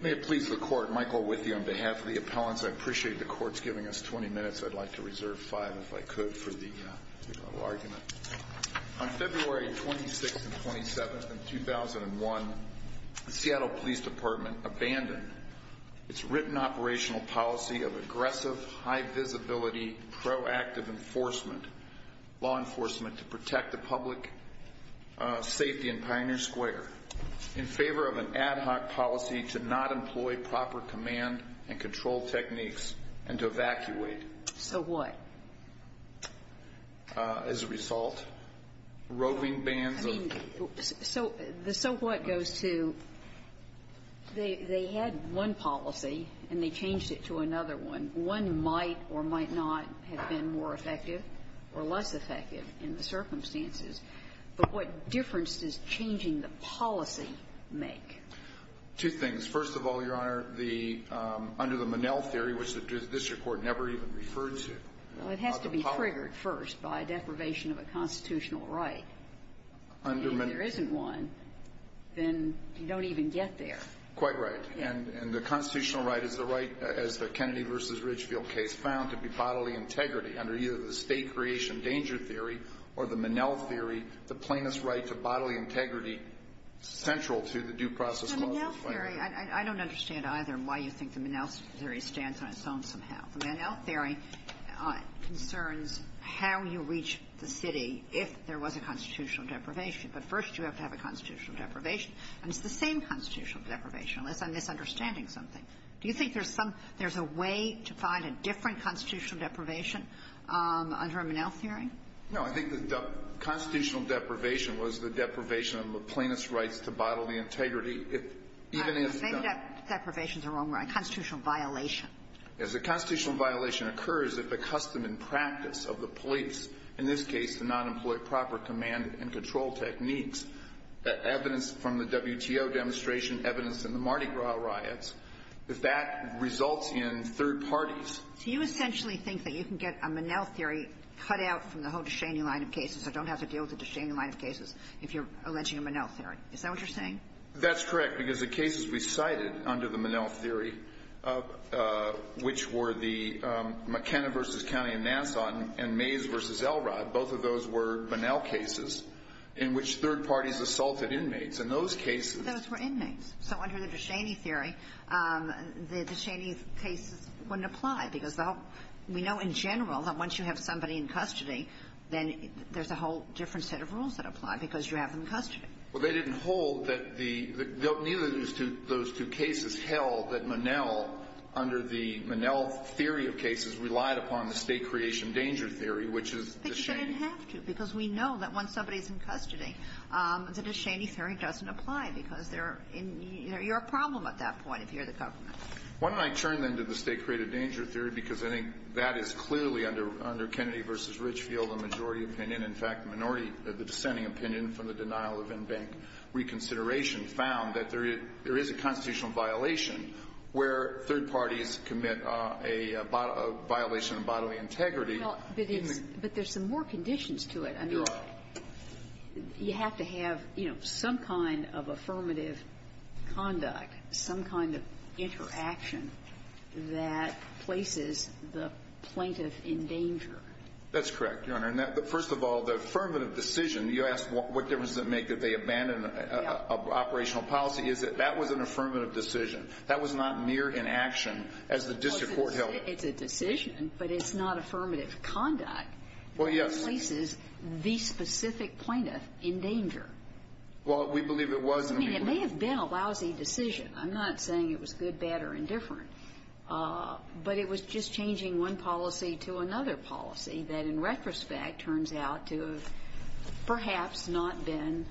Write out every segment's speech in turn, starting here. May it please the Court, Michael with you on behalf of the appellants. I appreciate the Court's giving us 20 minutes. I'd like to reserve 5 if I could for the argument. On February 26th and 27th of 2001, the Seattle Police Department abandoned its written operational policy of aggressive, high visibility, proactive enforcement, law enforcement to protect the public safety in Pioneer Square in favor of an ad hoc policy to not employ proper command and control techniques and to evacuate. So what? As a result, roving bands of the so what goes to they had one policy and they changed it to another one. One might or might not have been more effective or less effective in the circumstances. But what difference does changing the policy make? Two things. First of all, Your Honor, the under the Monell theory, which the district court never even referred to. Well, it has to be triggered first by deprivation of a constitutional right. If there isn't one, then you don't even get there. Quite right. And the constitutional right is the right, as the Kennedy v. Ridgefield case found, to be bodily integrity under either the state creation danger theory or the Monell theory. The plaintiff's right to bodily integrity central to the due process. I don't understand either why you think the Monell theory stands on its own somehow. The Monell theory concerns how you reach the city if there was a constitutional deprivation. But first you have to have a constitutional deprivation. And it's the same constitutional deprivation, unless I'm misunderstanding something. Do you think there's some there's a way to find a different constitutional deprivation under a Monell theory? No. I think the constitutional deprivation was the deprivation of the plaintiff's rights to bodily integrity, even if the — All right. Maybe that deprivation is the wrong word. A constitutional violation. Yes. A constitutional violation occurs if the custom and practice of the police, in this case the nonemployee proper command and control techniques, evidence from the WTO demonstration, evidence in the Mardi Gras riots, if that results in third parties — So you essentially think that you can get a Monell theory cut out from the whole Ducheney line of cases, so don't have to deal with the Ducheney line of cases if you're alleging a Monell theory. Is that what you're saying? That's correct, because the cases we cited under the Monell theory, which were the McKenna v. County and Nassau and Mays v. Elrod, both of those were Monell cases in which third parties assaulted inmates. In those cases — Those were inmates. So under the Ducheney theory, the Ducheney cases wouldn't apply, because the whole — we know in general that once you have somebody in custody, then there's a whole different set of rules that apply because you have them in custody. Well, they didn't hold that the — neither of those two cases held that Monell, under the Monell theory of cases, relied upon the state creation danger theory, which is Ducheney. But you didn't have to, because we know that when somebody is in custody, the Ducheney theory doesn't apply, because they're in — you're a problem at that point if you're the government. Why don't I turn, then, to the state created danger theory, because I think that is clearly under Kennedy v. Richfield, the majority opinion. In fact, the minority — the dissenting opinion from the denial of in-bank reconsideration found that there is a constitutional violation where third parties commit a violation of bodily integrity. Well, but it's — but there's some more conditions to it. There are. But you have to have, you know, some kind of affirmative conduct, some kind of interaction that places the plaintiff in danger. That's correct, Your Honor. And that — but first of all, the affirmative decision — you asked what difference does it make that they abandon operational policy. Is it — that was an affirmative decision. That was not mere inaction as the district court held it. Well, it's a decision, but it's not affirmative conduct. Well, yes. It places the specific plaintiff in danger. Well, we believe it was. I mean, it may have been a lousy decision. I'm not saying it was good, bad, or indifferent. But it was just changing one policy to another policy that, in retrospect, turns out to have perhaps not been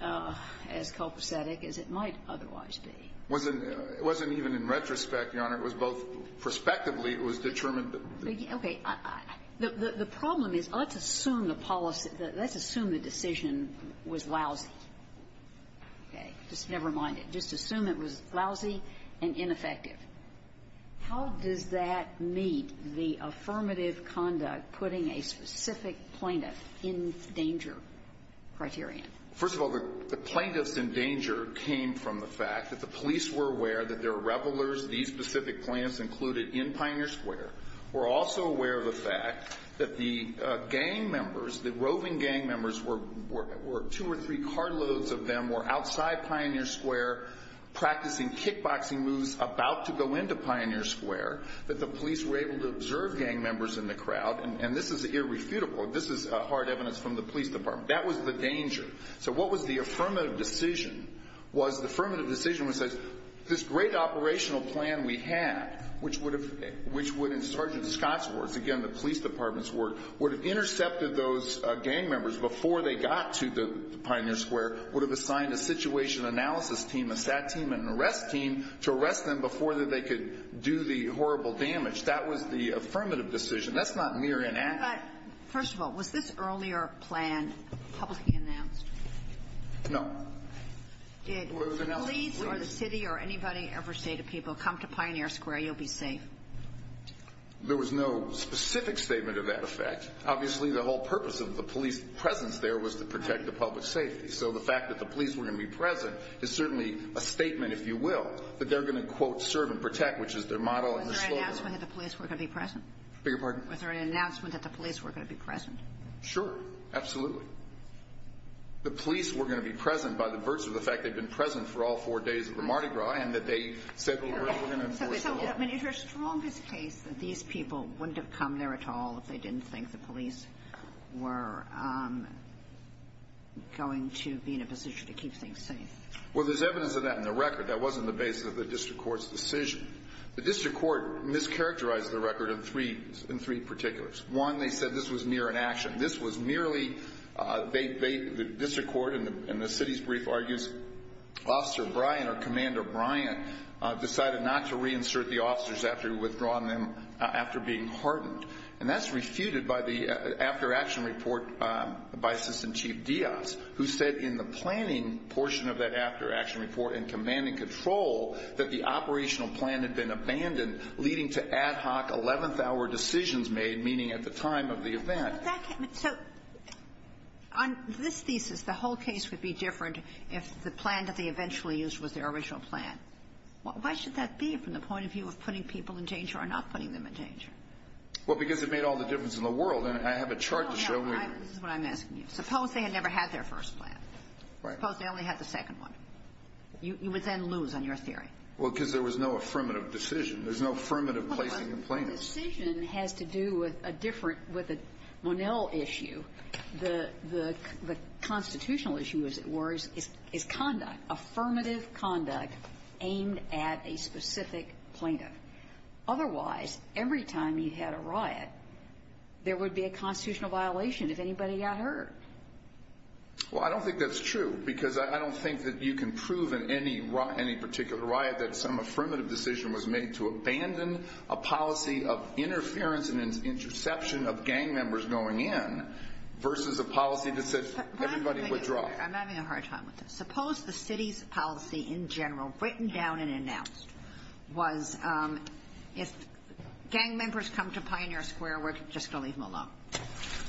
as copacetic as it might otherwise be. It wasn't even in retrospect, Your Honor. It was both prospectively. It was determined that — Okay. The problem is, let's assume the policy — let's assume the decision was lousy. Okay. Just never mind it. Just assume it was lousy and ineffective. How does that meet the affirmative conduct putting a specific plaintiff in danger criterion? First of all, the plaintiffs in danger came from the fact that the police were aware that there were revelers, these specific plaintiffs included, in Pioneer Square. We're also aware of the fact that the gang members, the roving gang members, were two or three carloads of them were outside Pioneer Square practicing kickboxing moves about to go into Pioneer Square, that the police were able to observe gang members in the crowd. And this is irrefutable. This is hard evidence from the police department. That was the danger. So what was the affirmative decision was the affirmative decision was this great operational plan we had, which would have — which would, in Sergeant Scott's words, again, the police department's words, would have intercepted those gang members before they got to the Pioneer Square, would have assigned a situation analysis team, a SAT team, and an arrest team to arrest them before they could do the horrible damage. That was the affirmative decision. That's not mere inaction. But, first of all, was this earlier plan publicly announced? No. Did the police or the city or anybody ever say to people, come to Pioneer Square, you'll be safe? There was no specific statement of that effect. Obviously, the whole purpose of the police presence there was to protect the public safety. So the fact that the police were going to be present is certainly a statement, if you will, that they're going to, quote, serve and protect, which is their model and their slogan. Was there an announcement that the police were going to be present? Beg your pardon? Was there an announcement that the police were going to be present? Sure. Absolutely. The police were going to be present by the virtue of the fact they'd been present for all four days of the Mardi Gras and that they said they were going to enforce the law. So, I mean, is there a strongest case that these people wouldn't have come there at all if they didn't think the police were going to be in a position to keep things safe? Well, there's evidence of that in the record. That wasn't the basis of the district court's decision. The district court mischaracterized the record in three particulars. One, they said this was mere inaction. This was merely the district court in the city's brief argues Officer Brian or Commander Brian decided not to reinsert the officers after withdrawing them after being hardened. And that's refuted by the after-action report by Assistant Chief Diaz, who said in the planning portion of that after-action report and command and control that the operational plan had been abandoned, leading to ad hoc eleventh-hour decisions made, meaning at the time of the event. So on this thesis, the whole case would be different if the plan that they eventually used was their original plan. Why should that be from the point of view of putting people in danger or not putting them in danger? Well, because it made all the difference in the world. And I have a chart to show you. This is what I'm asking you. Suppose they had never had their first plan. Right. Suppose they only had the second one. You would then lose on your theory. Well, because there was no affirmative decision. There's no affirmative placing of plaintiffs. Well, the decision has to do with a different, with a Monell issue. The constitutional issue, as it were, is conduct, affirmative conduct aimed at a specific plaintiff. Otherwise, every time you had a riot, there would be a constitutional violation if anybody got hurt. Well, I don't think that's true because I don't think that you can prove in any particular riot that some affirmative decision was made to abandon a policy of interference and interception of gang members going in versus a policy that said everybody withdraw. I'm having a hard time with this. Suppose the city's policy in general, written down and announced, was if gang members come to Pioneer Square, we're just going to leave them alone.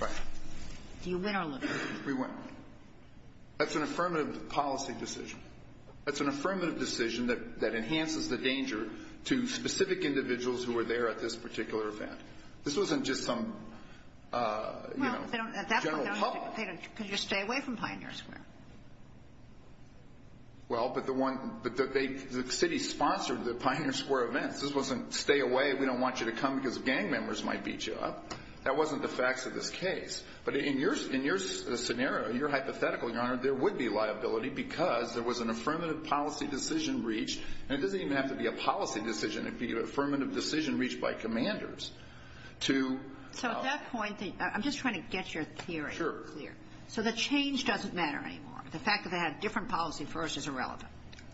Right. Do you win or lose? We win. That's an affirmative policy decision. That's an affirmative decision that enhances the danger to specific individuals who are there at this particular event. This wasn't just some, you know, general call. Well, at that point, they could just stay away from Pioneer Square. Well, but the city sponsored the Pioneer Square events. This wasn't stay away, we don't want you to come because gang members might beat you up. That wasn't the facts of this case. But in your scenario, your hypothetical, Your Honor, there would be liability because there was an affirmative policy decision reached. And it doesn't even have to be a policy decision. It could be an affirmative decision reached by commanders to ---- So at that point, I'm just trying to get your theory clear. Sure. So the change doesn't matter anymore. The fact that they had a different policy first is irrelevant.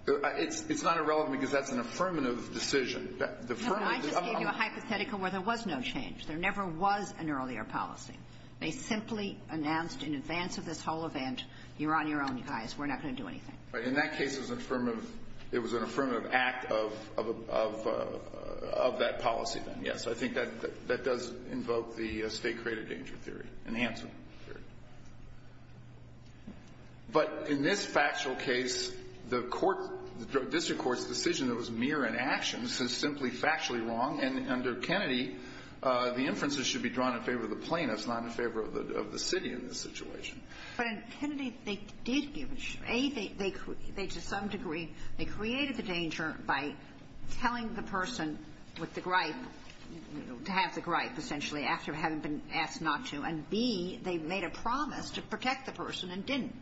It's not irrelevant because that's an affirmative decision. No, but I just gave you a hypothetical where there was no change. There never was an earlier policy. They simply announced in advance of this whole event, you're on your own, you guys, we're not going to do anything. Right. In that case, it was an affirmative act of that policy then. Yes. I think that does invoke the state-created danger theory and the Hanson theory. But in this factual case, the court, the district court's decision that was mere inaction is simply factually wrong. And under Kennedy, the inferences should be drawn in favor of the plaintiffs, not in favor of the city in this situation. But in Kennedy, they did give an issue. A, they, to some degree, they created the danger by telling the person with the gripe, you know, to have the gripe essentially after having been asked not to. And B, they made a promise to protect the person and didn't.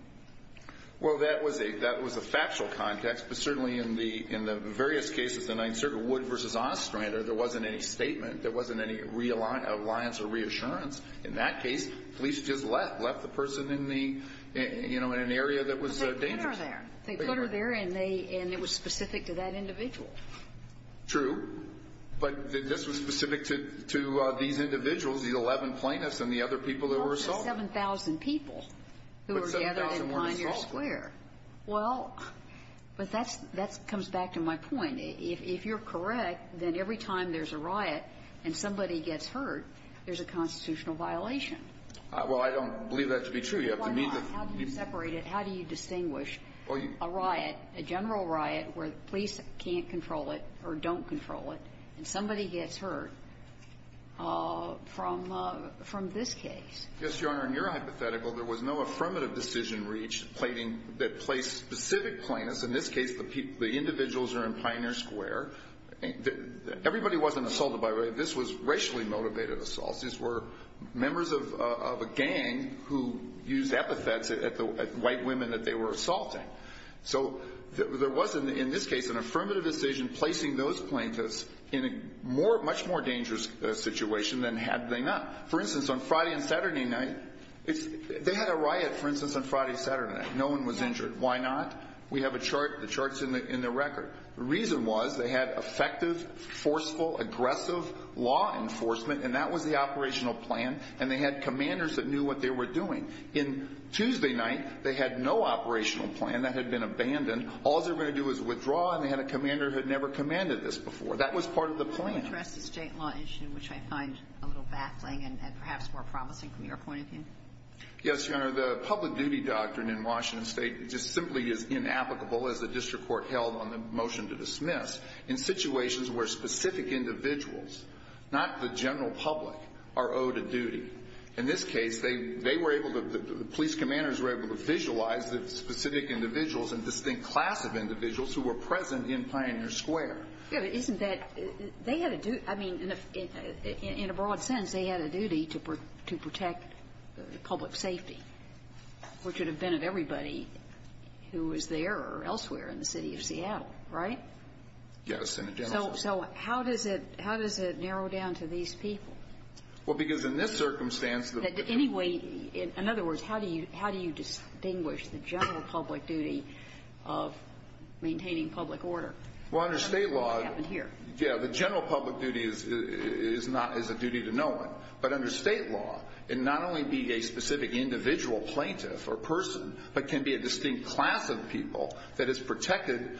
Well, that was a factual context. But certainly in the various cases, the Ninth Circuit, Wood v. Ostrander, there wasn't any statement. There wasn't any alliance or reassurance. In that case, police just left, left the person in the, you know, in an area that was dangerous. But they put her there. They put her there, and they, and it was specific to that individual. True. But this was specific to these individuals, these 11 plaintiffs and the other people that were assaulted. Well, it was 7,000 people who were gathered in Pioneer Square. But 7,000 were assaulted. Well, but that's, that comes back to my point. If you're correct, then every time there's a riot and somebody gets hurt, there's a constitutional violation. Well, I don't believe that to be true. You have to meet the ---- Why not? How do you separate it? How do you distinguish a riot, a general riot, where the police can't control it or don't control it, and somebody gets hurt from this case? Yes, Your Honor. In your hypothetical, there was no affirmative decision reached that placed specific plaintiffs. In this case, the individuals are in Pioneer Square. Everybody wasn't assaulted, by the way. This was racially motivated assaults. These were members of a gang who used epithets at white women that they were assaulting. So there was, in this case, an affirmative decision placing those plaintiffs in a much more dangerous situation than had they not. For instance, on Friday and Saturday night, they had a riot, for instance, on Friday and Saturday night. No one was injured. Why not? We have a chart. The chart's in the record. The reason was they had effective, forceful, aggressive law enforcement, and that was the operational plan, and they had commanders that knew what they were doing. On Tuesday night, they had no operational plan. That had been abandoned. All they were going to do was withdraw, and they had a commander who had never commanded this before. That was part of the plan. Can you address the state law issue, which I find a little baffling and perhaps more promising from your point of view? Yes, Your Honor. The public duty doctrine in Washington State just simply is inapplicable, as the district court held on the motion to dismiss, in situations where specific individuals, not the general public, are owed a duty. In this case, they were able to, the police commanders were able to visualize the specific individuals and distinct class of individuals who were present in Pioneer Square. Isn't that, they had a duty, I mean, in a broad sense, they had a duty to protect public safety, which would have been of everybody who was there or elsewhere in the city of Seattle, right? Yes, in a general sense. So how does it narrow down to these people? Well, because in this circumstance, the... Anyway, in other words, how do you distinguish the general public duty of maintaining public order? Well, under state law... That's what happened here. Yeah, the general public duty is a duty to no one. But under state law, it not only be a specific individual plaintiff or person, but can be a distinct class of people that is protected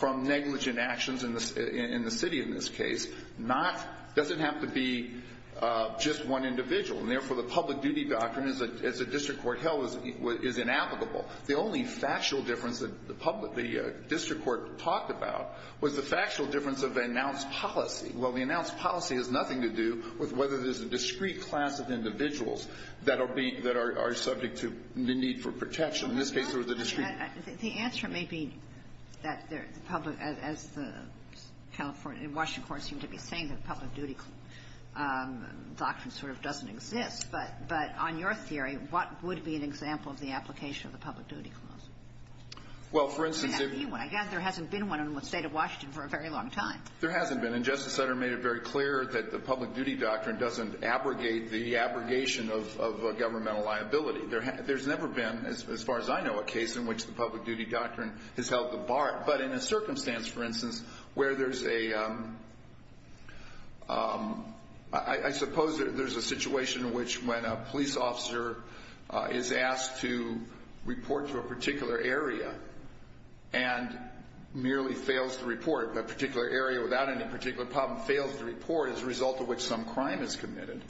from negligent actions in the city in this case. Not... Doesn't have to be just one individual. And therefore, the public duty doctrine, as the district court held, is inapplicable. The only factual difference that the district court talked about was the factual difference of announced policy. Well, the announced policy has nothing to do with whether there's a discrete class of individuals that are subject to the need for protection. In this case, there was a discrete... The answer may be that the public, as the California and Washington courts seem to be saying, that the public duty doctrine sort of doesn't exist. But on your theory, what would be an example of the application of the public duty clause? Well, for instance, if... It may not be one. Again, there hasn't been one in the State of Washington for a very long time. There hasn't been. And Justice Sutter made it very clear that the public duty doctrine doesn't abrogate the abrogation of governmental liability. There's never been, as far as I know, a case in which the public duty doctrine has held the bar. But in a circumstance, for instance, where there's a... I suppose there's a situation in which when a police officer is asked to report to a particular area and merely fails to report, a particular area without any particular problem, fails to report as a result of which some crime is committed,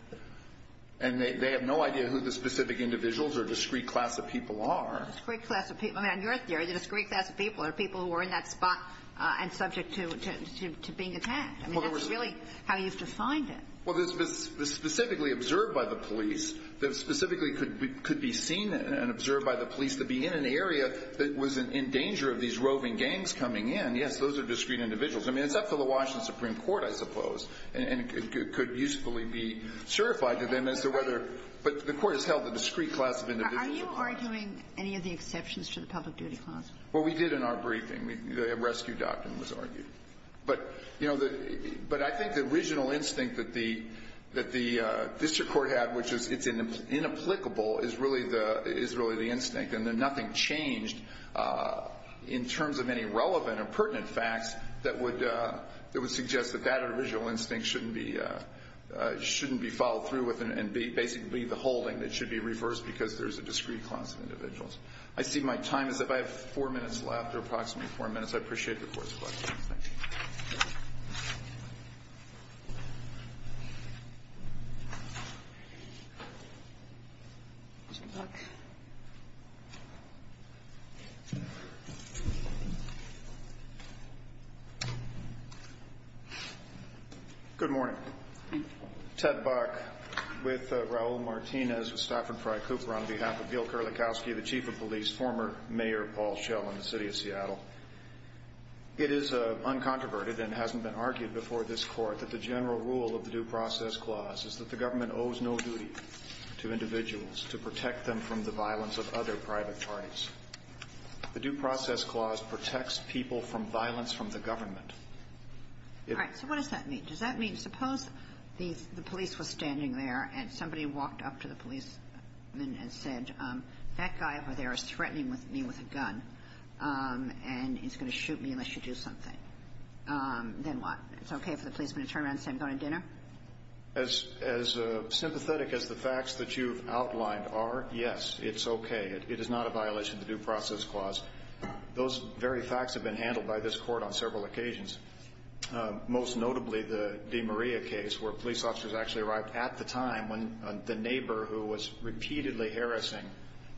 and they have no idea who the specific individuals or discrete class of people are. Discrete class of people. I mean, on your theory, the discrete class of people are people who are in that spot and subject to being attacked. I mean, that's really how you've defined it. Well, this was specifically observed by the police. It specifically could be seen and observed by the police to be in an area that was in danger of these roving gangs coming in. Yes, those are discrete individuals. I mean, it's up to the Washington Supreme Court, I suppose, and it could usefully be certified to them as to whether... But the Court has held the discrete class of individuals... Are you arguing any of the exceptions to the public duty clause? Well, we did in our briefing. The rescue doctrine was argued. But, you know, the original instinct that the district court had, which is it's inapplicable, is really the instinct. And then nothing changed in terms of any relevant or pertinent facts that would suggest that that original instinct shouldn't be followed through with and be basically the holding. It should be reversed because there's a discrete class of individuals. I see my time is up. I have four minutes left, or approximately four minutes. I appreciate the Court's questions. Thank you. Mr. Buck. Good morning. Ted Buck with Raul Martinez with Stafford Fry Cooper on behalf of Gil Kerlikowske, the Chief of Police, former Mayor Paul Schell in the City of Seattle. It is uncontroverted and hasn't been argued before this Court that the general rule of the Due Process Clause is that the government owes no duty to individuals to protect them from the violence of other private parties. The Due Process Clause protects people from violence from the government. All right. So what does that mean? Does that mean suppose the police was standing there and somebody walked up to the me unless you do something? Then what? It's okay for the policeman to turn around and say I'm going to dinner? As sympathetic as the facts that you've outlined are, yes, it's okay. It is not a violation of the Due Process Clause. Those very facts have been handled by this Court on several occasions, most notably the DeMaria case where police officers actually arrived at the time when the neighbor who was repeatedly harassing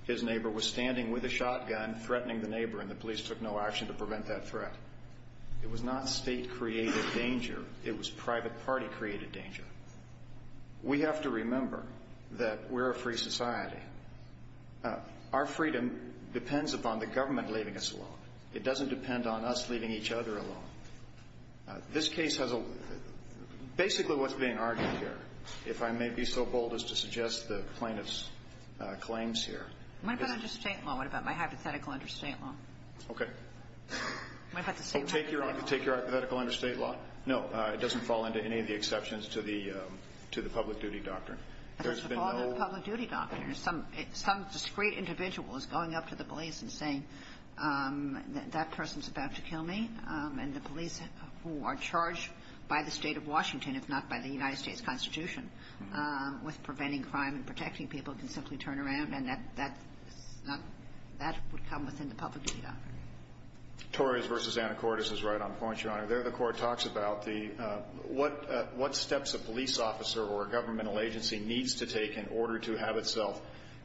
his neighbor was standing with a shotgun, threatening the neighbor and the police took no action to prevent that threat. It was not state-created danger. It was private party-created danger. We have to remember that we're a free society. Our freedom depends upon the government leaving us alone. It doesn't depend on us leaving each other alone. This case has a, basically what's being argued here, if I may be so bold as to suggest the plaintiff's claims here. What about under state law? What about my hypothetical under state law? Okay. Take your hypothetical under state law? No, it doesn't fall into any of the exceptions to the public duty doctrine. There's been no... It doesn't fall under the public duty doctrine. Some discreet individual is going up to the police and saying that person is about to kill me and the police who are charged by the State of Washington, if not by the United States Constitution, with preventing crime and protecting people can simply turn around and that would come within the public duty doctrine. Torres v. Anna Cordes is right on points, Your Honor. There the Court talks about what steps a police officer or a governmental agency needs to take in order to have itself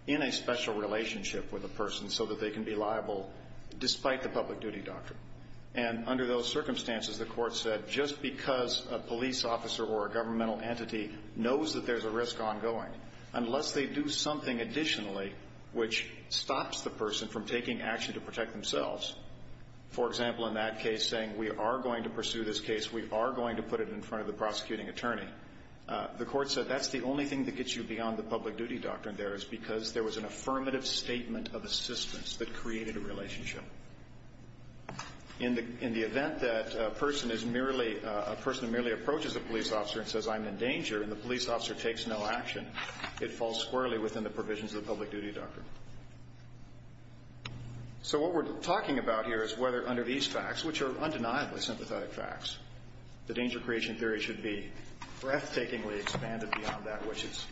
in a special relationship with a person so that they can be liable despite the public duty doctrine. And under those circumstances, the Court said, just because a police officer or a governmental entity knows that there's a risk ongoing, unless they do something additionally which stops the person from taking action to protect themselves, for example, in that case saying we are going to pursue this case, we are going to put it in front of the prosecuting attorney, the Court said that's the only thing that gets you beyond the public duty doctrine there is because there was an affirmative statement of assistance that created a relationship. In the event that a person is merely a person who merely approaches a police officer and says I'm in danger and the police officer takes no action, it falls squarely within the provisions of the public duty doctrine. So what we're talking about here is whether under these facts, which are undeniably sympathetic facts, the danger creation theory should be breathtakingly expanded beyond that which is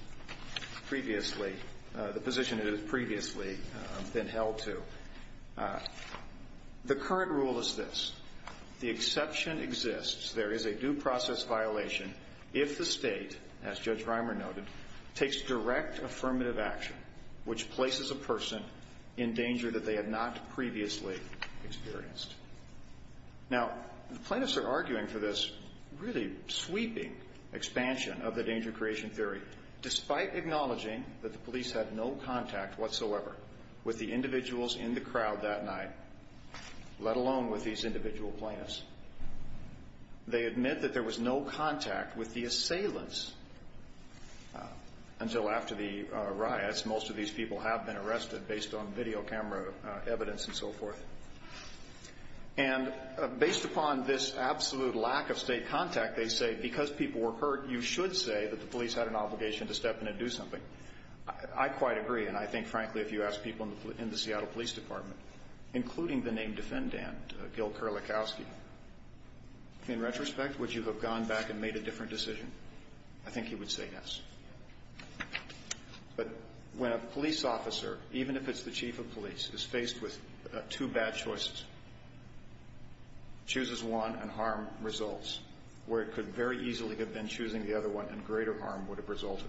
previously, the position it has previously been held to. The current rule is this. The exception exists. There is a due process violation if the State, as Judge Reimer noted, takes direct affirmative action which places a person in danger that they have not previously experienced. Now, plaintiffs are arguing for this really sweeping expansion of the danger creation theory despite acknowledging that the police had no contact whatsoever with the individuals in the crowd that night, let alone with these individual plaintiffs. They admit that there was no contact with the assailants until after the riots. Most of these people have been arrested based on video camera evidence and so forth. And based upon this absolute lack of State contact, they say because people were hurt, you should say that the police had an obligation to step in and do something. I quite agree, and I think frankly if you ask people in the Seattle Police Department, including the named defendant, Gil Kerlikowski, in retrospect, would you have gone back and made a different decision? I think he would say yes. But when a police officer, even if it's the chief of police, is faced with two bad choices, chooses one and harm results where it could very easily have been choosing the other one and greater harm would have resulted,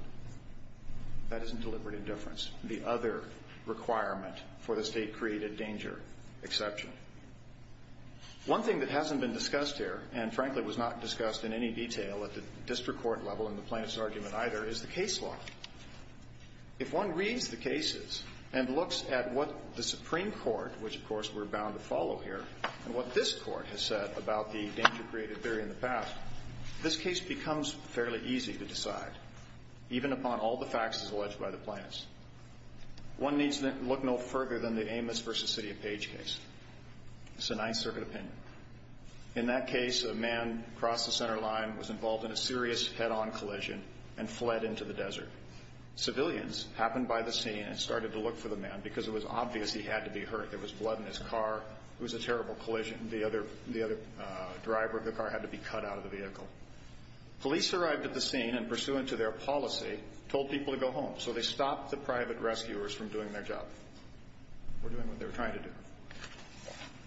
that isn't deliberate indifference. It's the other requirement for the State-created danger exception. One thing that hasn't been discussed here and frankly was not discussed in any detail at the district court level in the plaintiff's argument either is the case law. If one reads the cases and looks at what the Supreme Court, which of course we're bound to follow here, and what this Court has said about the danger-created theory in the past, this case becomes fairly easy to decide, even upon all the facts as alleged by the plaintiffs. One needs to look no further than the Amos v. City of Page case. It's a Ninth Circuit opinion. In that case, a man crossed the center line, was involved in a serious head-on collision, and fled into the desert. Civilians happened by the scene and started to look for the man because it was obvious he had to be hurt. There was blood in his car. It was a terrible collision. The other driver of the car had to be cut out of the vehicle. Police arrived at the scene and, pursuant to their policy, told people to go home. So they stopped the private rescuers from doing their job or doing what they were trying to do.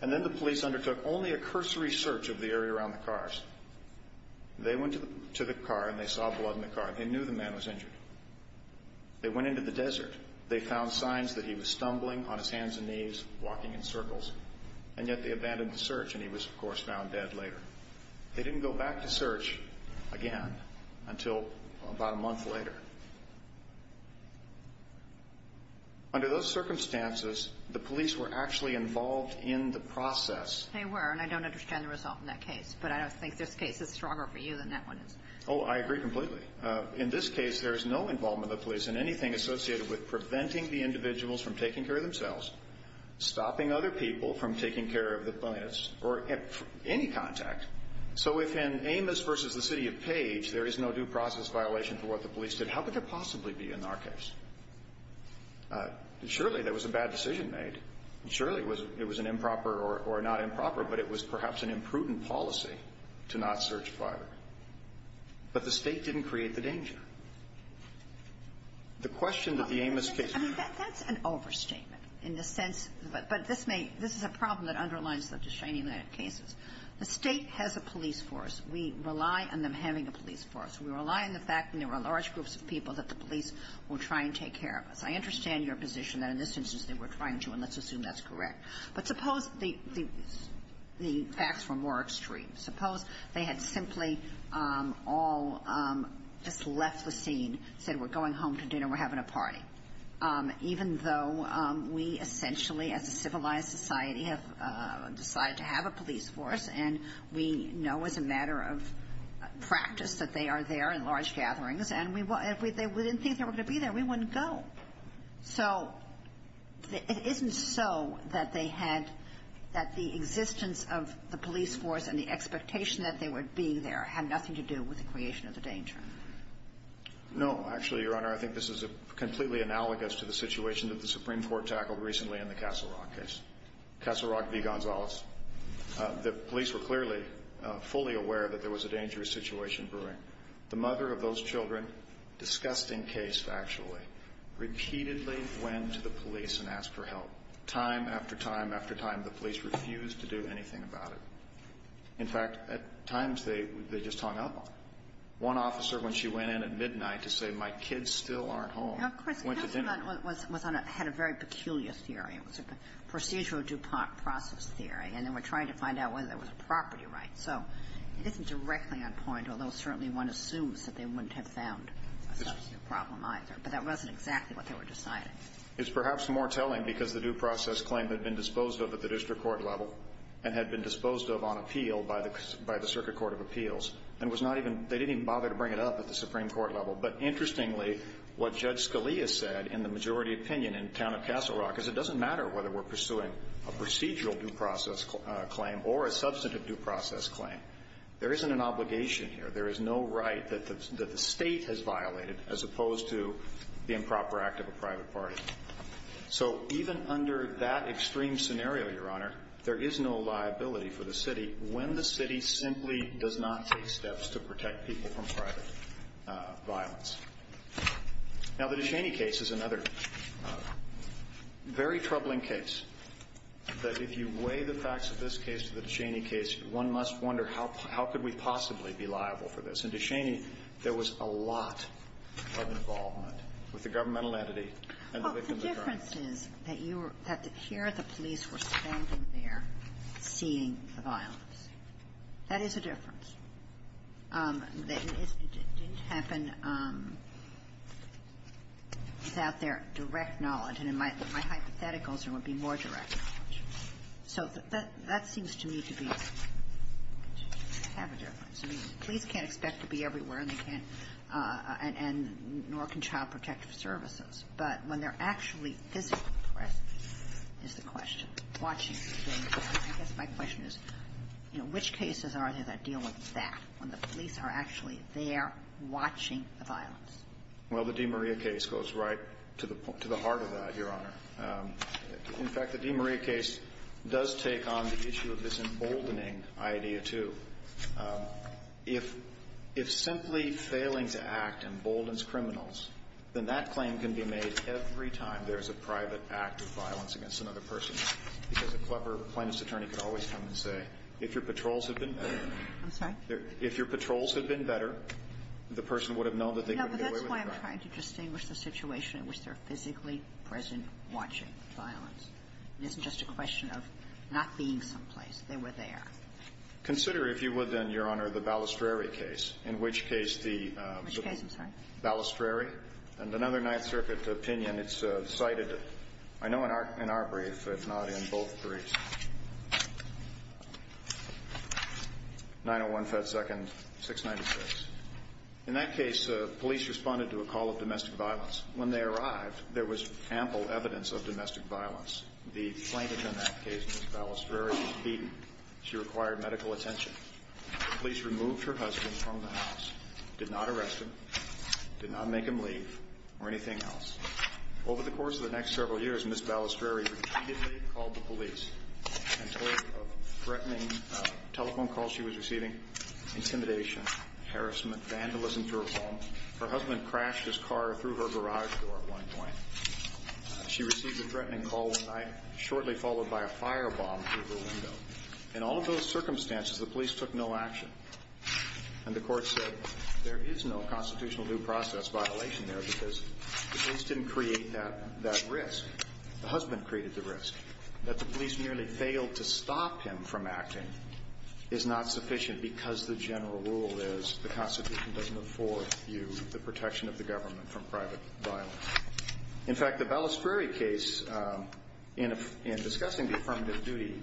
And then the police undertook only a cursory search of the area around the cars. They went to the car and they saw blood in the car. They knew the man was injured. They went into the desert. They found signs that he was stumbling on his hands and knees, walking in circles. And yet they abandoned the search, and he was, of course, found dead later. They didn't go back to search again until about a month later. Under those circumstances, the police were actually involved in the process. They were, and I don't understand the result in that case. But I don't think this case is stronger for you than that one is. Oh, I agree completely. In this case, there is no involvement of the police in anything associated with preventing the individuals from taking care of themselves, stopping other people from taking care of the plaintiffs, or any contact. So if in Amos v. the City of Page there is no due process violation for what the police did, how could there possibly be in our case? Surely there was a bad decision made. Surely it was an improper or not improper, but it was perhaps an imprudent policy to not search privately. But the state didn't create the danger. The question that the Amos case raises to me is that's an overstatement in the sense, but this may, this is a problem that underlines the Shining Land cases. The State has a police force. We rely on them having a police force. We rely on the fact that there are large groups of people that the police will try and take care of us. I understand your position that in this instance they were trying to, and let's assume that's correct. But suppose the facts were more extreme. Suppose they had simply all just left the scene, said we're going home to dinner, we're having a party. Even though we essentially as a civilized society have decided to have a police force, and we know as a matter of practice that they are there in large gatherings, and we didn't think they were going to be there. We wouldn't go. So it isn't so that they had, that the existence of the police force and the expectation that they would be there had nothing to do with the creation of the danger? No. Actually, Your Honor, I think this is completely analogous to the situation that the Supreme Court tackled recently in the Castle Rock case. Castle Rock v. Gonzalez. The police were clearly fully aware that there was a dangerous situation brewing. The mother of those children, disgusting case, actually, repeatedly went to the police and asked for help. Time after time after time, the police refused to do anything about it. In fact, at times they just hung up. One officer, when she went in at midnight to say, my kids still aren't home, went to dinner. Now, of course, Castle Rock was on a, had a very peculiar theory. It was a procedural DuPont process theory, and they were trying to find out whether there was a property right. So it isn't directly on point, although certainly one assumes that they wouldn't have found a substantive problem either. But that wasn't exactly what they were deciding. It's perhaps more telling because the due process claim had been disposed of at the district court level and had been disposed of on appeal by the, by the Circuit Court of Appeals, and was not even, they didn't even bother to bring it up at the Supreme Court level. But interestingly, what Judge Scalia said in the majority opinion in town of Castle Rock is it doesn't matter whether we're pursuing a procedural due process claim or a substantive due process claim, there isn't an obligation here. There is no right that the, that the state has violated as opposed to the improper act of a private party. So even under that extreme scenario, Your Honor, there is no liability for the city when the city simply does not take steps to protect people from private violence. Now, the Descheny case is another very troubling case. That if you weigh the facts of this case to the Descheny case, one must wonder how, how could we possibly be liable for this. In Descheny, there was a lot of involvement with the governmental entity and the victim of the crime. Well, the difference is that you were, that the, here the police were standing there seeing the violence. That is a difference. It didn't happen without their direct knowledge. So that, that seems to me to be, to have a difference. I mean, the police can't expect to be everywhere and they can't, and, and nor can Child Protective Services. But when they're actually physically present is the question. Watching things. I guess my question is, you know, which cases are there that deal with that, when the police are actually there watching the violence? Well, the DeMaria case goes right to the, to the heart of that, Your Honor. In fact, the DeMaria case does take on the issue of this emboldening idea, too. If, if simply failing to act emboldens criminals, then that claim can be made every time there's a private act of violence against another person, because a clever plaintiff's attorney could always come and say, if your patrols had been better. I'm sorry? If your patrols had been better, the person would have known that they could get away with the crime. No, but that's why I'm trying to distinguish the situation in which they're physically present watching the violence. It isn't just a question of not being someplace. They were there. Consider, if you would, then, Your Honor, the Balistreri case, in which case the Which case, I'm sorry? Balistreri and another Ninth Circuit opinion. It's cited, I know, in our, in our brief, but not in both briefs. 901 Fed Second 696. In that case, police responded to a call of domestic violence. When they arrived, there was ample evidence of domestic violence. The plaintiff in that case, Ms. Balistreri, was beaten. She required medical attention. Police removed her husband from the house, did not arrest him, did not make him leave, or anything else. Over the course of the next several years, Ms. Balistreri repeatedly called the and told of threatening telephone calls she was receiving, intimidation, harassment, vandalism to her home. Her husband crashed his car through her garage door at one point. She received a threatening call one night, shortly followed by a firebomb through her window. In all of those circumstances, the police took no action. And the court said there is no constitutional due process violation there because the police didn't create that risk. The husband created the risk. That the police merely failed to stop him from acting is not sufficient because the general rule is the Constitution doesn't afford you the protection of the government from private violence. In fact, the Balistreri case, in discussing the affirmative duty,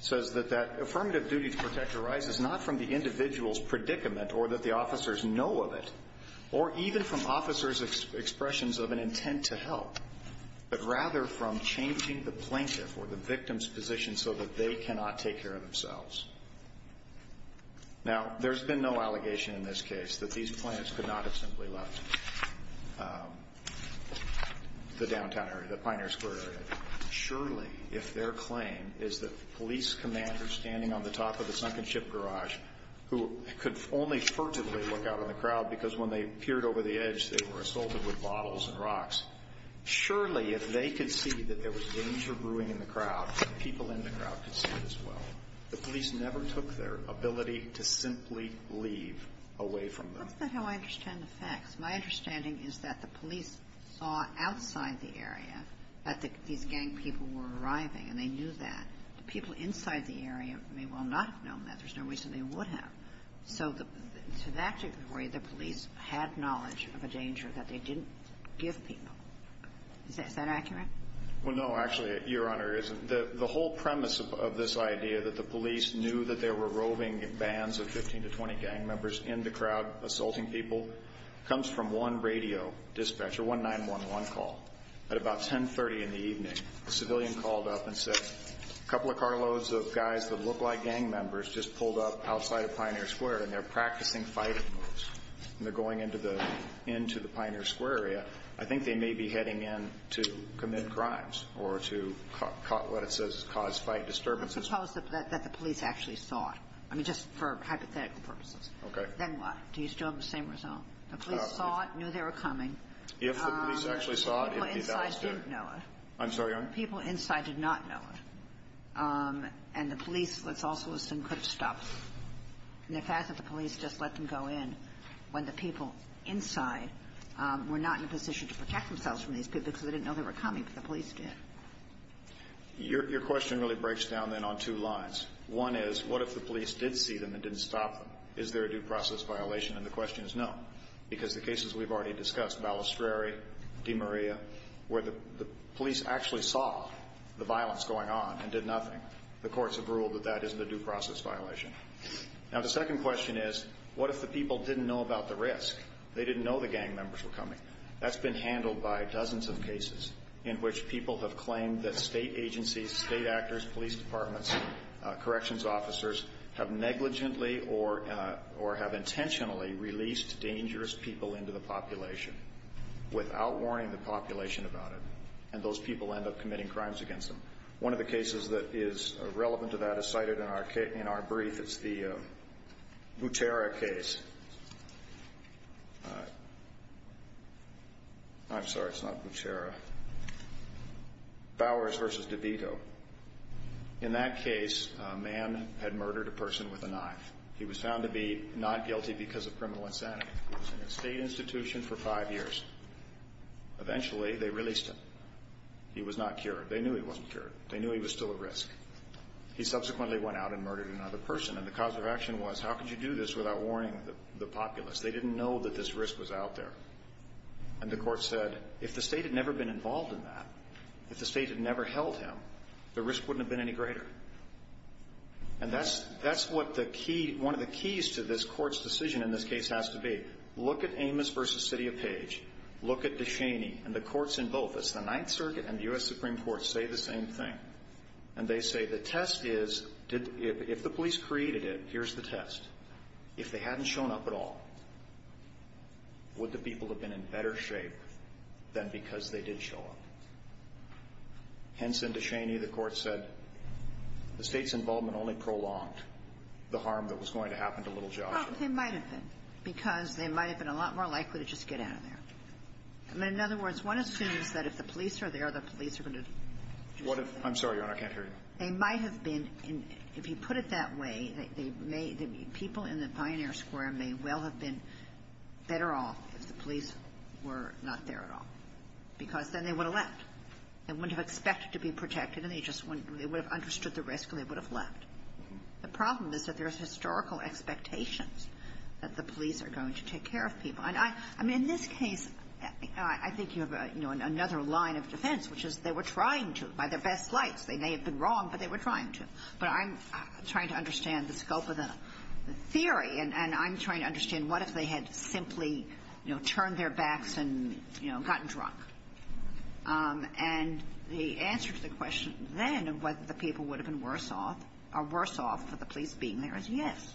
says that that affirmative duty to protect arises not from the individual's predicament or that the officers know of it, or even from officers' expressions of an intent to help, but rather from changing the plaintiff or the victim's position so that they cannot take care of themselves. Now, there's been no allegation in this case that these plaintiffs could not have simply left the downtown area, the Pioneer Square area. Surely, if their claim is that the police commander standing on the top of the sunken ship garage, who could only furtively look out in the crowd because when they could see that there was danger brewing in the crowd, the people in the crowd could see it as well. The police never took their ability to simply leave away from them. What's that how I understand the facts? My understanding is that the police saw outside the area that these gang people were arriving, and they knew that. The people inside the area may well not have known that. There's no reason they would have. So to that degree, the police had knowledge of a danger that they didn't give people. Is that accurate? Well, no. Actually, Your Honor, the whole premise of this idea that the police knew that there were roving bands of 15 to 20 gang members in the crowd assaulting people comes from one radio dispatcher, one 911 call. At about 10.30 in the evening, a civilian called up and said, a couple of carloads of guys that look like gang members just pulled up outside of Pioneer Square, and they're practicing fighting moves, and they're going into the Pioneer Square area. But I think they may be heading in to commit crimes or to what it says is cause fight disturbances. Let's suppose that the police actually saw it. I mean, just for hypothetical purposes. Okay. Then what? Do you still have the same result? The police saw it, knew they were coming. If the police actually saw it, it would be a valid statement. The people inside didn't know it. I'm sorry, Your Honor? The people inside did not know it. And the police, let's also assume, could have stopped. And the fact that the police just let them go in when the people inside were not in a position to protect themselves from these people because they didn't know they were coming, but the police did. Your question really breaks down then on two lines. One is, what if the police did see them and didn't stop them? Is there a due process violation? And the question is no, because the cases we've already discussed, Balestrari, DeMaria, where the police actually saw the violence going on and did nothing, the courts have ruled that that isn't a due process violation. Now, the second question is, what if the people didn't know about the risk? They didn't know the gang members were coming. That's been handled by dozens of cases in which people have claimed that state agencies, state actors, police departments, corrections officers have negligently or have intentionally released dangerous people into the population without warning the population about it. And those people end up committing crimes against them. One of the cases that is relevant to that is cited in our brief. It's the Butera case. I'm sorry, it's not Butera. Bowers v. DeVito. In that case, a man had murdered a person with a knife. He was found to be not guilty because of criminal insanity. He was in a state institution for five years. Eventually, they released him. He was not cured. They knew he wasn't cured. They knew he was still at risk. He subsequently went out and murdered another person. And the cause of action was, how could you do this without warning the populace? They didn't know that this risk was out there. And the court said, if the state had never been involved in that, if the state had never held him, the risk wouldn't have been any greater. And that's what one of the keys to this court's decision in this case has to be. Look at Amos v. City of Page. Look at DeShaney and the courts in both. It's the Ninth Circuit and the U.S. Supreme Court say the same thing. And they say the test is, if the police created it, here's the test. If they hadn't shown up at all, would the people have been in better shape than because they did show up? Hence, in DeShaney, the court said, the state's involvement only prolonged the harm that was going to happen to little Joshua. Well, they might have been, because they might have been a lot more likely to just get out of there. I mean, in other words, one assumes that if the police are there, the police are going to do it. I'm sorry, Your Honor. I can't hear you. They might have been. If you put it that way, they may be. People in the Pioneer Square may well have been better off if the police were not there at all, because then they would have left. They wouldn't have expected to be protected, and they just wouldn't. They would have understood the risk, and they would have left. The problem is that there's historical expectations that the police are going to take care of people. And I mean, in this case, I think you have, you know, another line of defense, which is they were trying to, by their best lights. They may have been wrong, but they were trying to. But I'm trying to understand the scope of the theory, and I'm trying to understand what if they had simply, you know, turned their backs and, you know, gotten drunk. And the answer to the question then of whether the people would have been worse off, or worse off for the police being there, is yes.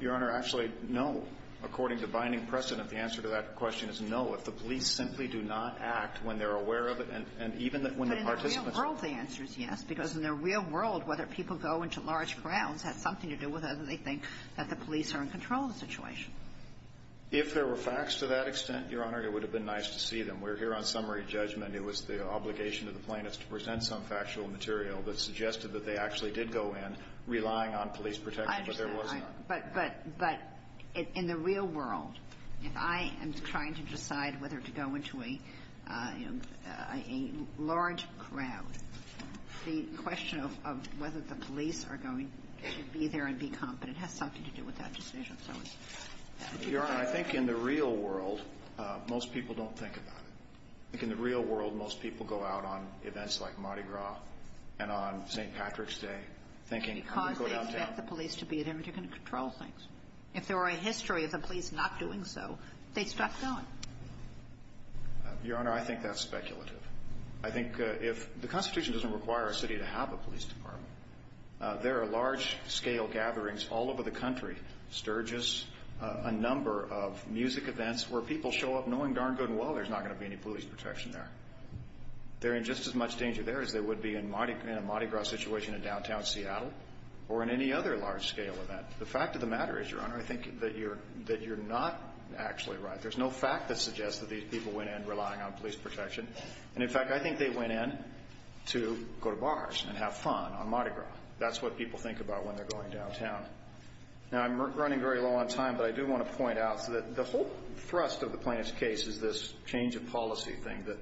Your Honor, actually, no. According to binding precedent, the answer to that question is no. If the police simply do not act when they're aware of it, and even when the participants But in the real world, the answer is yes, because in the real world, whether people go into large crowds has something to do with whether they think that the police are in control of the situation. If there were facts to that extent, Your Honor, it would have been nice to see them. We're here on summary judgment. It was the obligation of the plaintiffs to present some factual material that suggested that they actually did go in, relying on police protection, but there was not. I understand. But in the real world, if I am trying to decide whether to go into a large crowd, the question of whether the police are going to be there and be competent has something to do with that decision. Your Honor, I think in the real world, most people don't think about it. In the real world, most people go out on events like Mardi Gras and on St. Patrick's Day thinking, I'm going to go downtown. Because they expect the police to be there, but you're going to control things. If there were a history of the police not doing so, they'd stop going. Your Honor, I think that's speculative. I think if the Constitution doesn't require a city to have a police department, there are large-scale gatherings all over the country, sturges, a number of music events where people show up knowing darn good and well there's not going to be any police protection there. They're in just as much danger there as they would be in a Mardi Gras situation in downtown Seattle or in any other large-scale event. The fact of the matter is, Your Honor, I think that you're not actually right. There's no fact that suggests that these people went in relying on police protection. And, in fact, I think they went in to go to bars and have fun on Mardi Gras. That's what people think about when they're going downtown. Now, I'm running very low on time, but I do want to point out that the whole thrust of the plaintiff's case is this change of policy thing that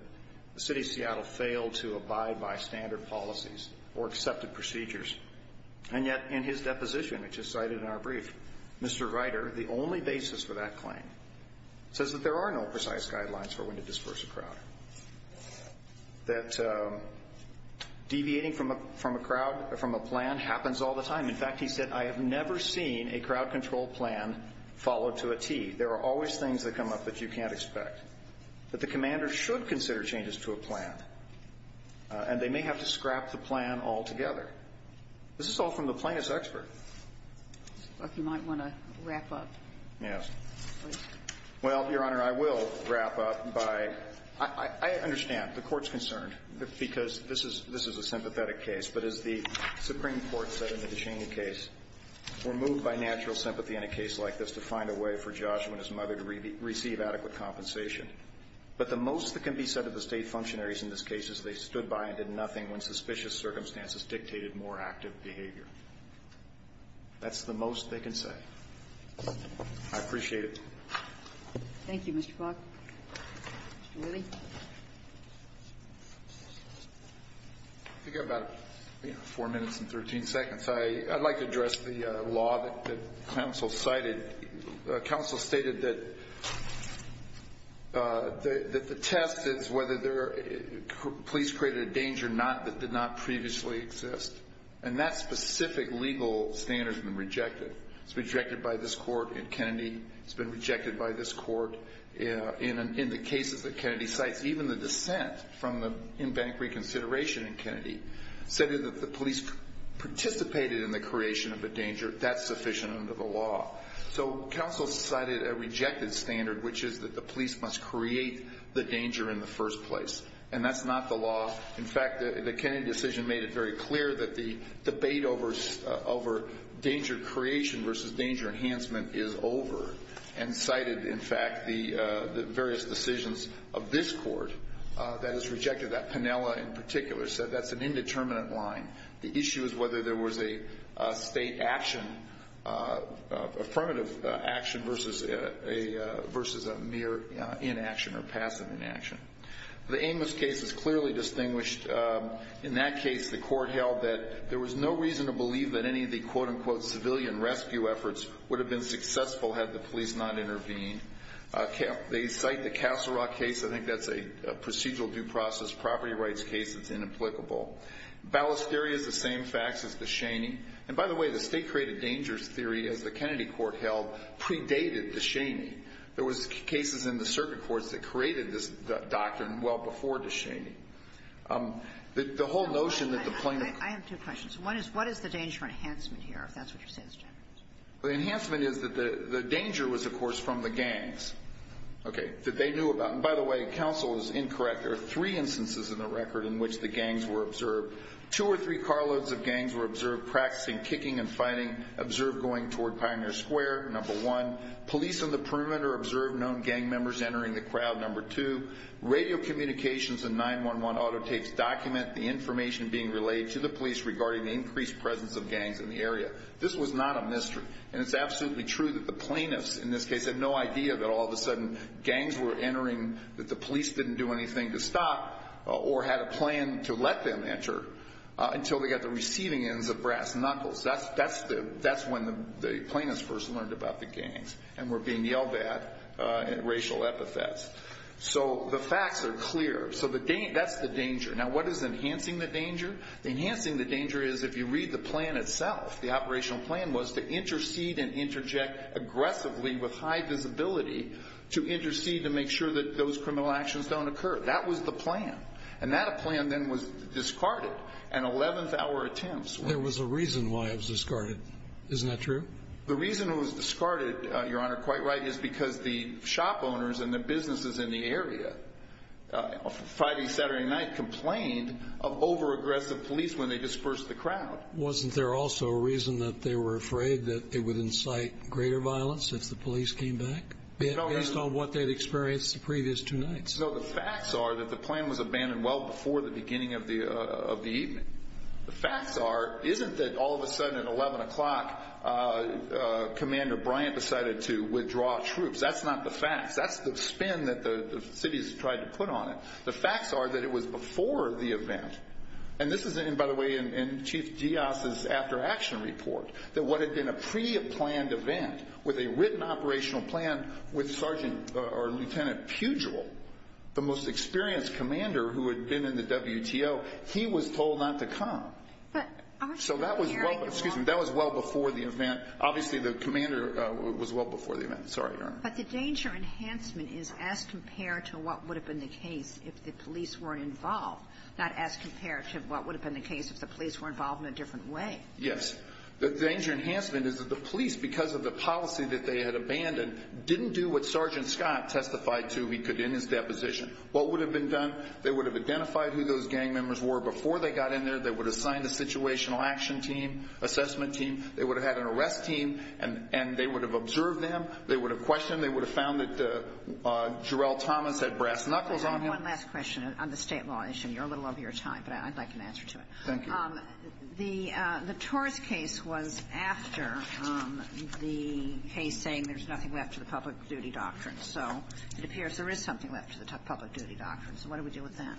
the City of Seattle failed to abide by standard policies or accepted procedures. And yet, in his deposition, which is cited in our brief, Mr. Ryder, the only basis for that claim, says that there are no precise guidelines for when to disperse a crowd. That deviating from a plan happens all the time. In fact, he said, I have never seen a crowd control plan follow to a tee. There are always things that come up that you can't expect. But the commander should consider changes to a plan, and they may have to scrap the plan altogether. This is all from the plaintiff's expert. If you might want to wrap up. Yes. Well, Your Honor, I will wrap up by, I understand the court's concerned, because this is a sympathetic case. But as the Supreme Court said in the Descheny case, we're moved by natural sympathy in a case like this to find a way for Joshua and his mother to receive adequate compensation. But the most that can be said of the State functionaries in this case is they stood by and did nothing when suspicious circumstances dictated more active behavior. That's the most they can say. I appreciate it. Thank you, Mr. Faulk. Mr. Whitty. I think I have about four minutes and 13 seconds. I'd like to address the law that counsel cited. Counsel stated that the test is whether police created a danger that did not previously exist. And that specific legal standard has been rejected. It's been rejected by this court in Kennedy. It's been rejected by this court in the cases that Kennedy cites. Even the dissent from the in-bank reconsideration in Kennedy said that the police participated in the creation of a danger. That's sufficient under the law. So counsel cited a rejected standard, which is that the police must create the danger in the first place. And that's not the law. In fact, the Kennedy decision made it very clear that the debate over danger creation versus danger enhancement is over. And cited, in fact, the various decisions of this court that is rejected. That Piniella, in particular, said that's an indeterminate line. The issue is whether there was a state action, affirmative action versus a mere inaction or passive inaction. The Amos case is clearly distinguished. In that case, the court held that there was no reason to believe that any of the, quote-unquote, civilian rescue efforts would have been successful had the police not intervened. They cite the Castle Rock case. I think that's a procedural due process property rights case that's inimplicable. Ballast theory is the same facts as Descheny. And by the way, the state-created dangers theory, as the Kennedy court held, predated Descheny. There was cases in the circuit courts that created this doctrine well before Descheny. The whole notion that the plaintiff ---- I have two questions. One is, what is the danger enhancement here, if that's what you're saying, Mr. Chapman? Well, the enhancement is that the danger was, of course, from the gangs, okay, that they knew about. And by the way, counsel is incorrect. There are three instances in the record in which the gangs were observed. Two or three carloads of gangs were observed practicing kicking and fighting, observed going toward Pioneer Square, number one. Police on the perimeter observed known gang members entering the crowd, number two. Radio communications and 911 autotapes document the information being relayed to the police regarding the increased presence of gangs in the area. This was not a mystery. And it's absolutely true that the plaintiffs in this case had no idea that all of a sudden gangs were entering, that the police didn't do anything to stop or had a plan to let them enter until they got the receiving ends of brass knuckles. That's when the plaintiffs first learned about the gangs and were being yelled at in racial epithets. So the facts are clear. So that's the danger. Now, what is enhancing the danger? Enhancing the danger is, if you read the plan itself, the operational plan was to intercede and interject aggressively with high visibility to intercede to make sure that those criminal actions don't occur. That was the plan. And that plan then was discarded. And 11th hour attempts were made. There was a reason why it was discarded. Isn't that true? The reason it was discarded, Your Honor, quite right, is because the shop owners and the businesses in the area Friday, Saturday night complained of over-aggressive police when they dispersed the crowd. Wasn't there also a reason that they were afraid that it would incite greater violence if the police came back based on what they had experienced the previous two nights? No, the facts are that the plan was abandoned well before the beginning of the evening. The facts are, isn't that all of a sudden at 11 o'clock, Commander Bryant decided to withdraw troops? That's not the facts. That's the spin that the cities tried to put on it. The facts are that it was before the event. And this is, by the way, in Chief Diaz's after-action report, that what had been a pre-planned event with a written operational plan with Sergeant or Lieutenant Pugel, the most experienced commander who had been in the WTO, he was told not to come. So that was well before the event. Obviously the commander was well before the event. Sorry, Your Honor. But the danger enhancement is as compared to what would have been the case if the police weren't involved, not as compared to what would have been the case if the police were involved in a different way. Yes. The danger enhancement is that the police, because of the policy that they had abandoned, didn't do what Sergeant Scott testified to he could in his deposition. What would have been done? They would have identified who those gang members were before they got in there. They would have signed a situational action team, assessment team. They would have had an arrest team, and they would have observed them. They would have questioned. They would have found that Jarrell Thomas had brass knuckles on him. One last question on the state law issue. You're a little over your time, but I'd like an answer to it. Thank you. The Torres case was after the case saying there's nothing left to the public duty doctrine. So it appears there is something left to the public duty doctrine. So what do we do with that?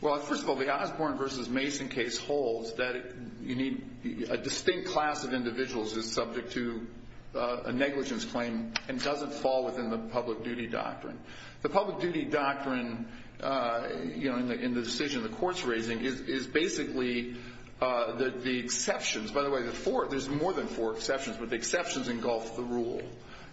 Well, first of all, the Osborne v. Mason case holds that you need a distinct class of individuals that's subject to a negligence claim and doesn't fall within the public duty doctrine. The public duty doctrine, you know, in the decision the Court's raising, is basically the exceptions. By the way, there's more than four exceptions, but the exceptions engulf the rule.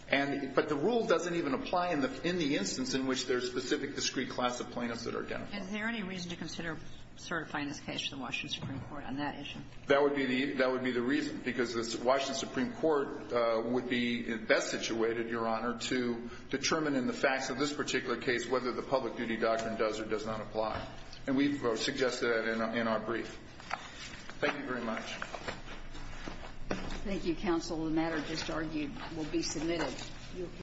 But the rule doesn't even apply in the instance in which there's a specific discrete class of plaintiffs that are identified. Is there any reason to consider certifying this case to the Washington Supreme Court on that issue? That would be the reason, because the Washington Supreme Court would be best situated, Your Honor, to determine in the facts of this particular case whether the public duty doctrine does or does not apply. And we've suggested that in our brief. Thank you very much. Thank you, Counsel. The matter just argued will be submitted.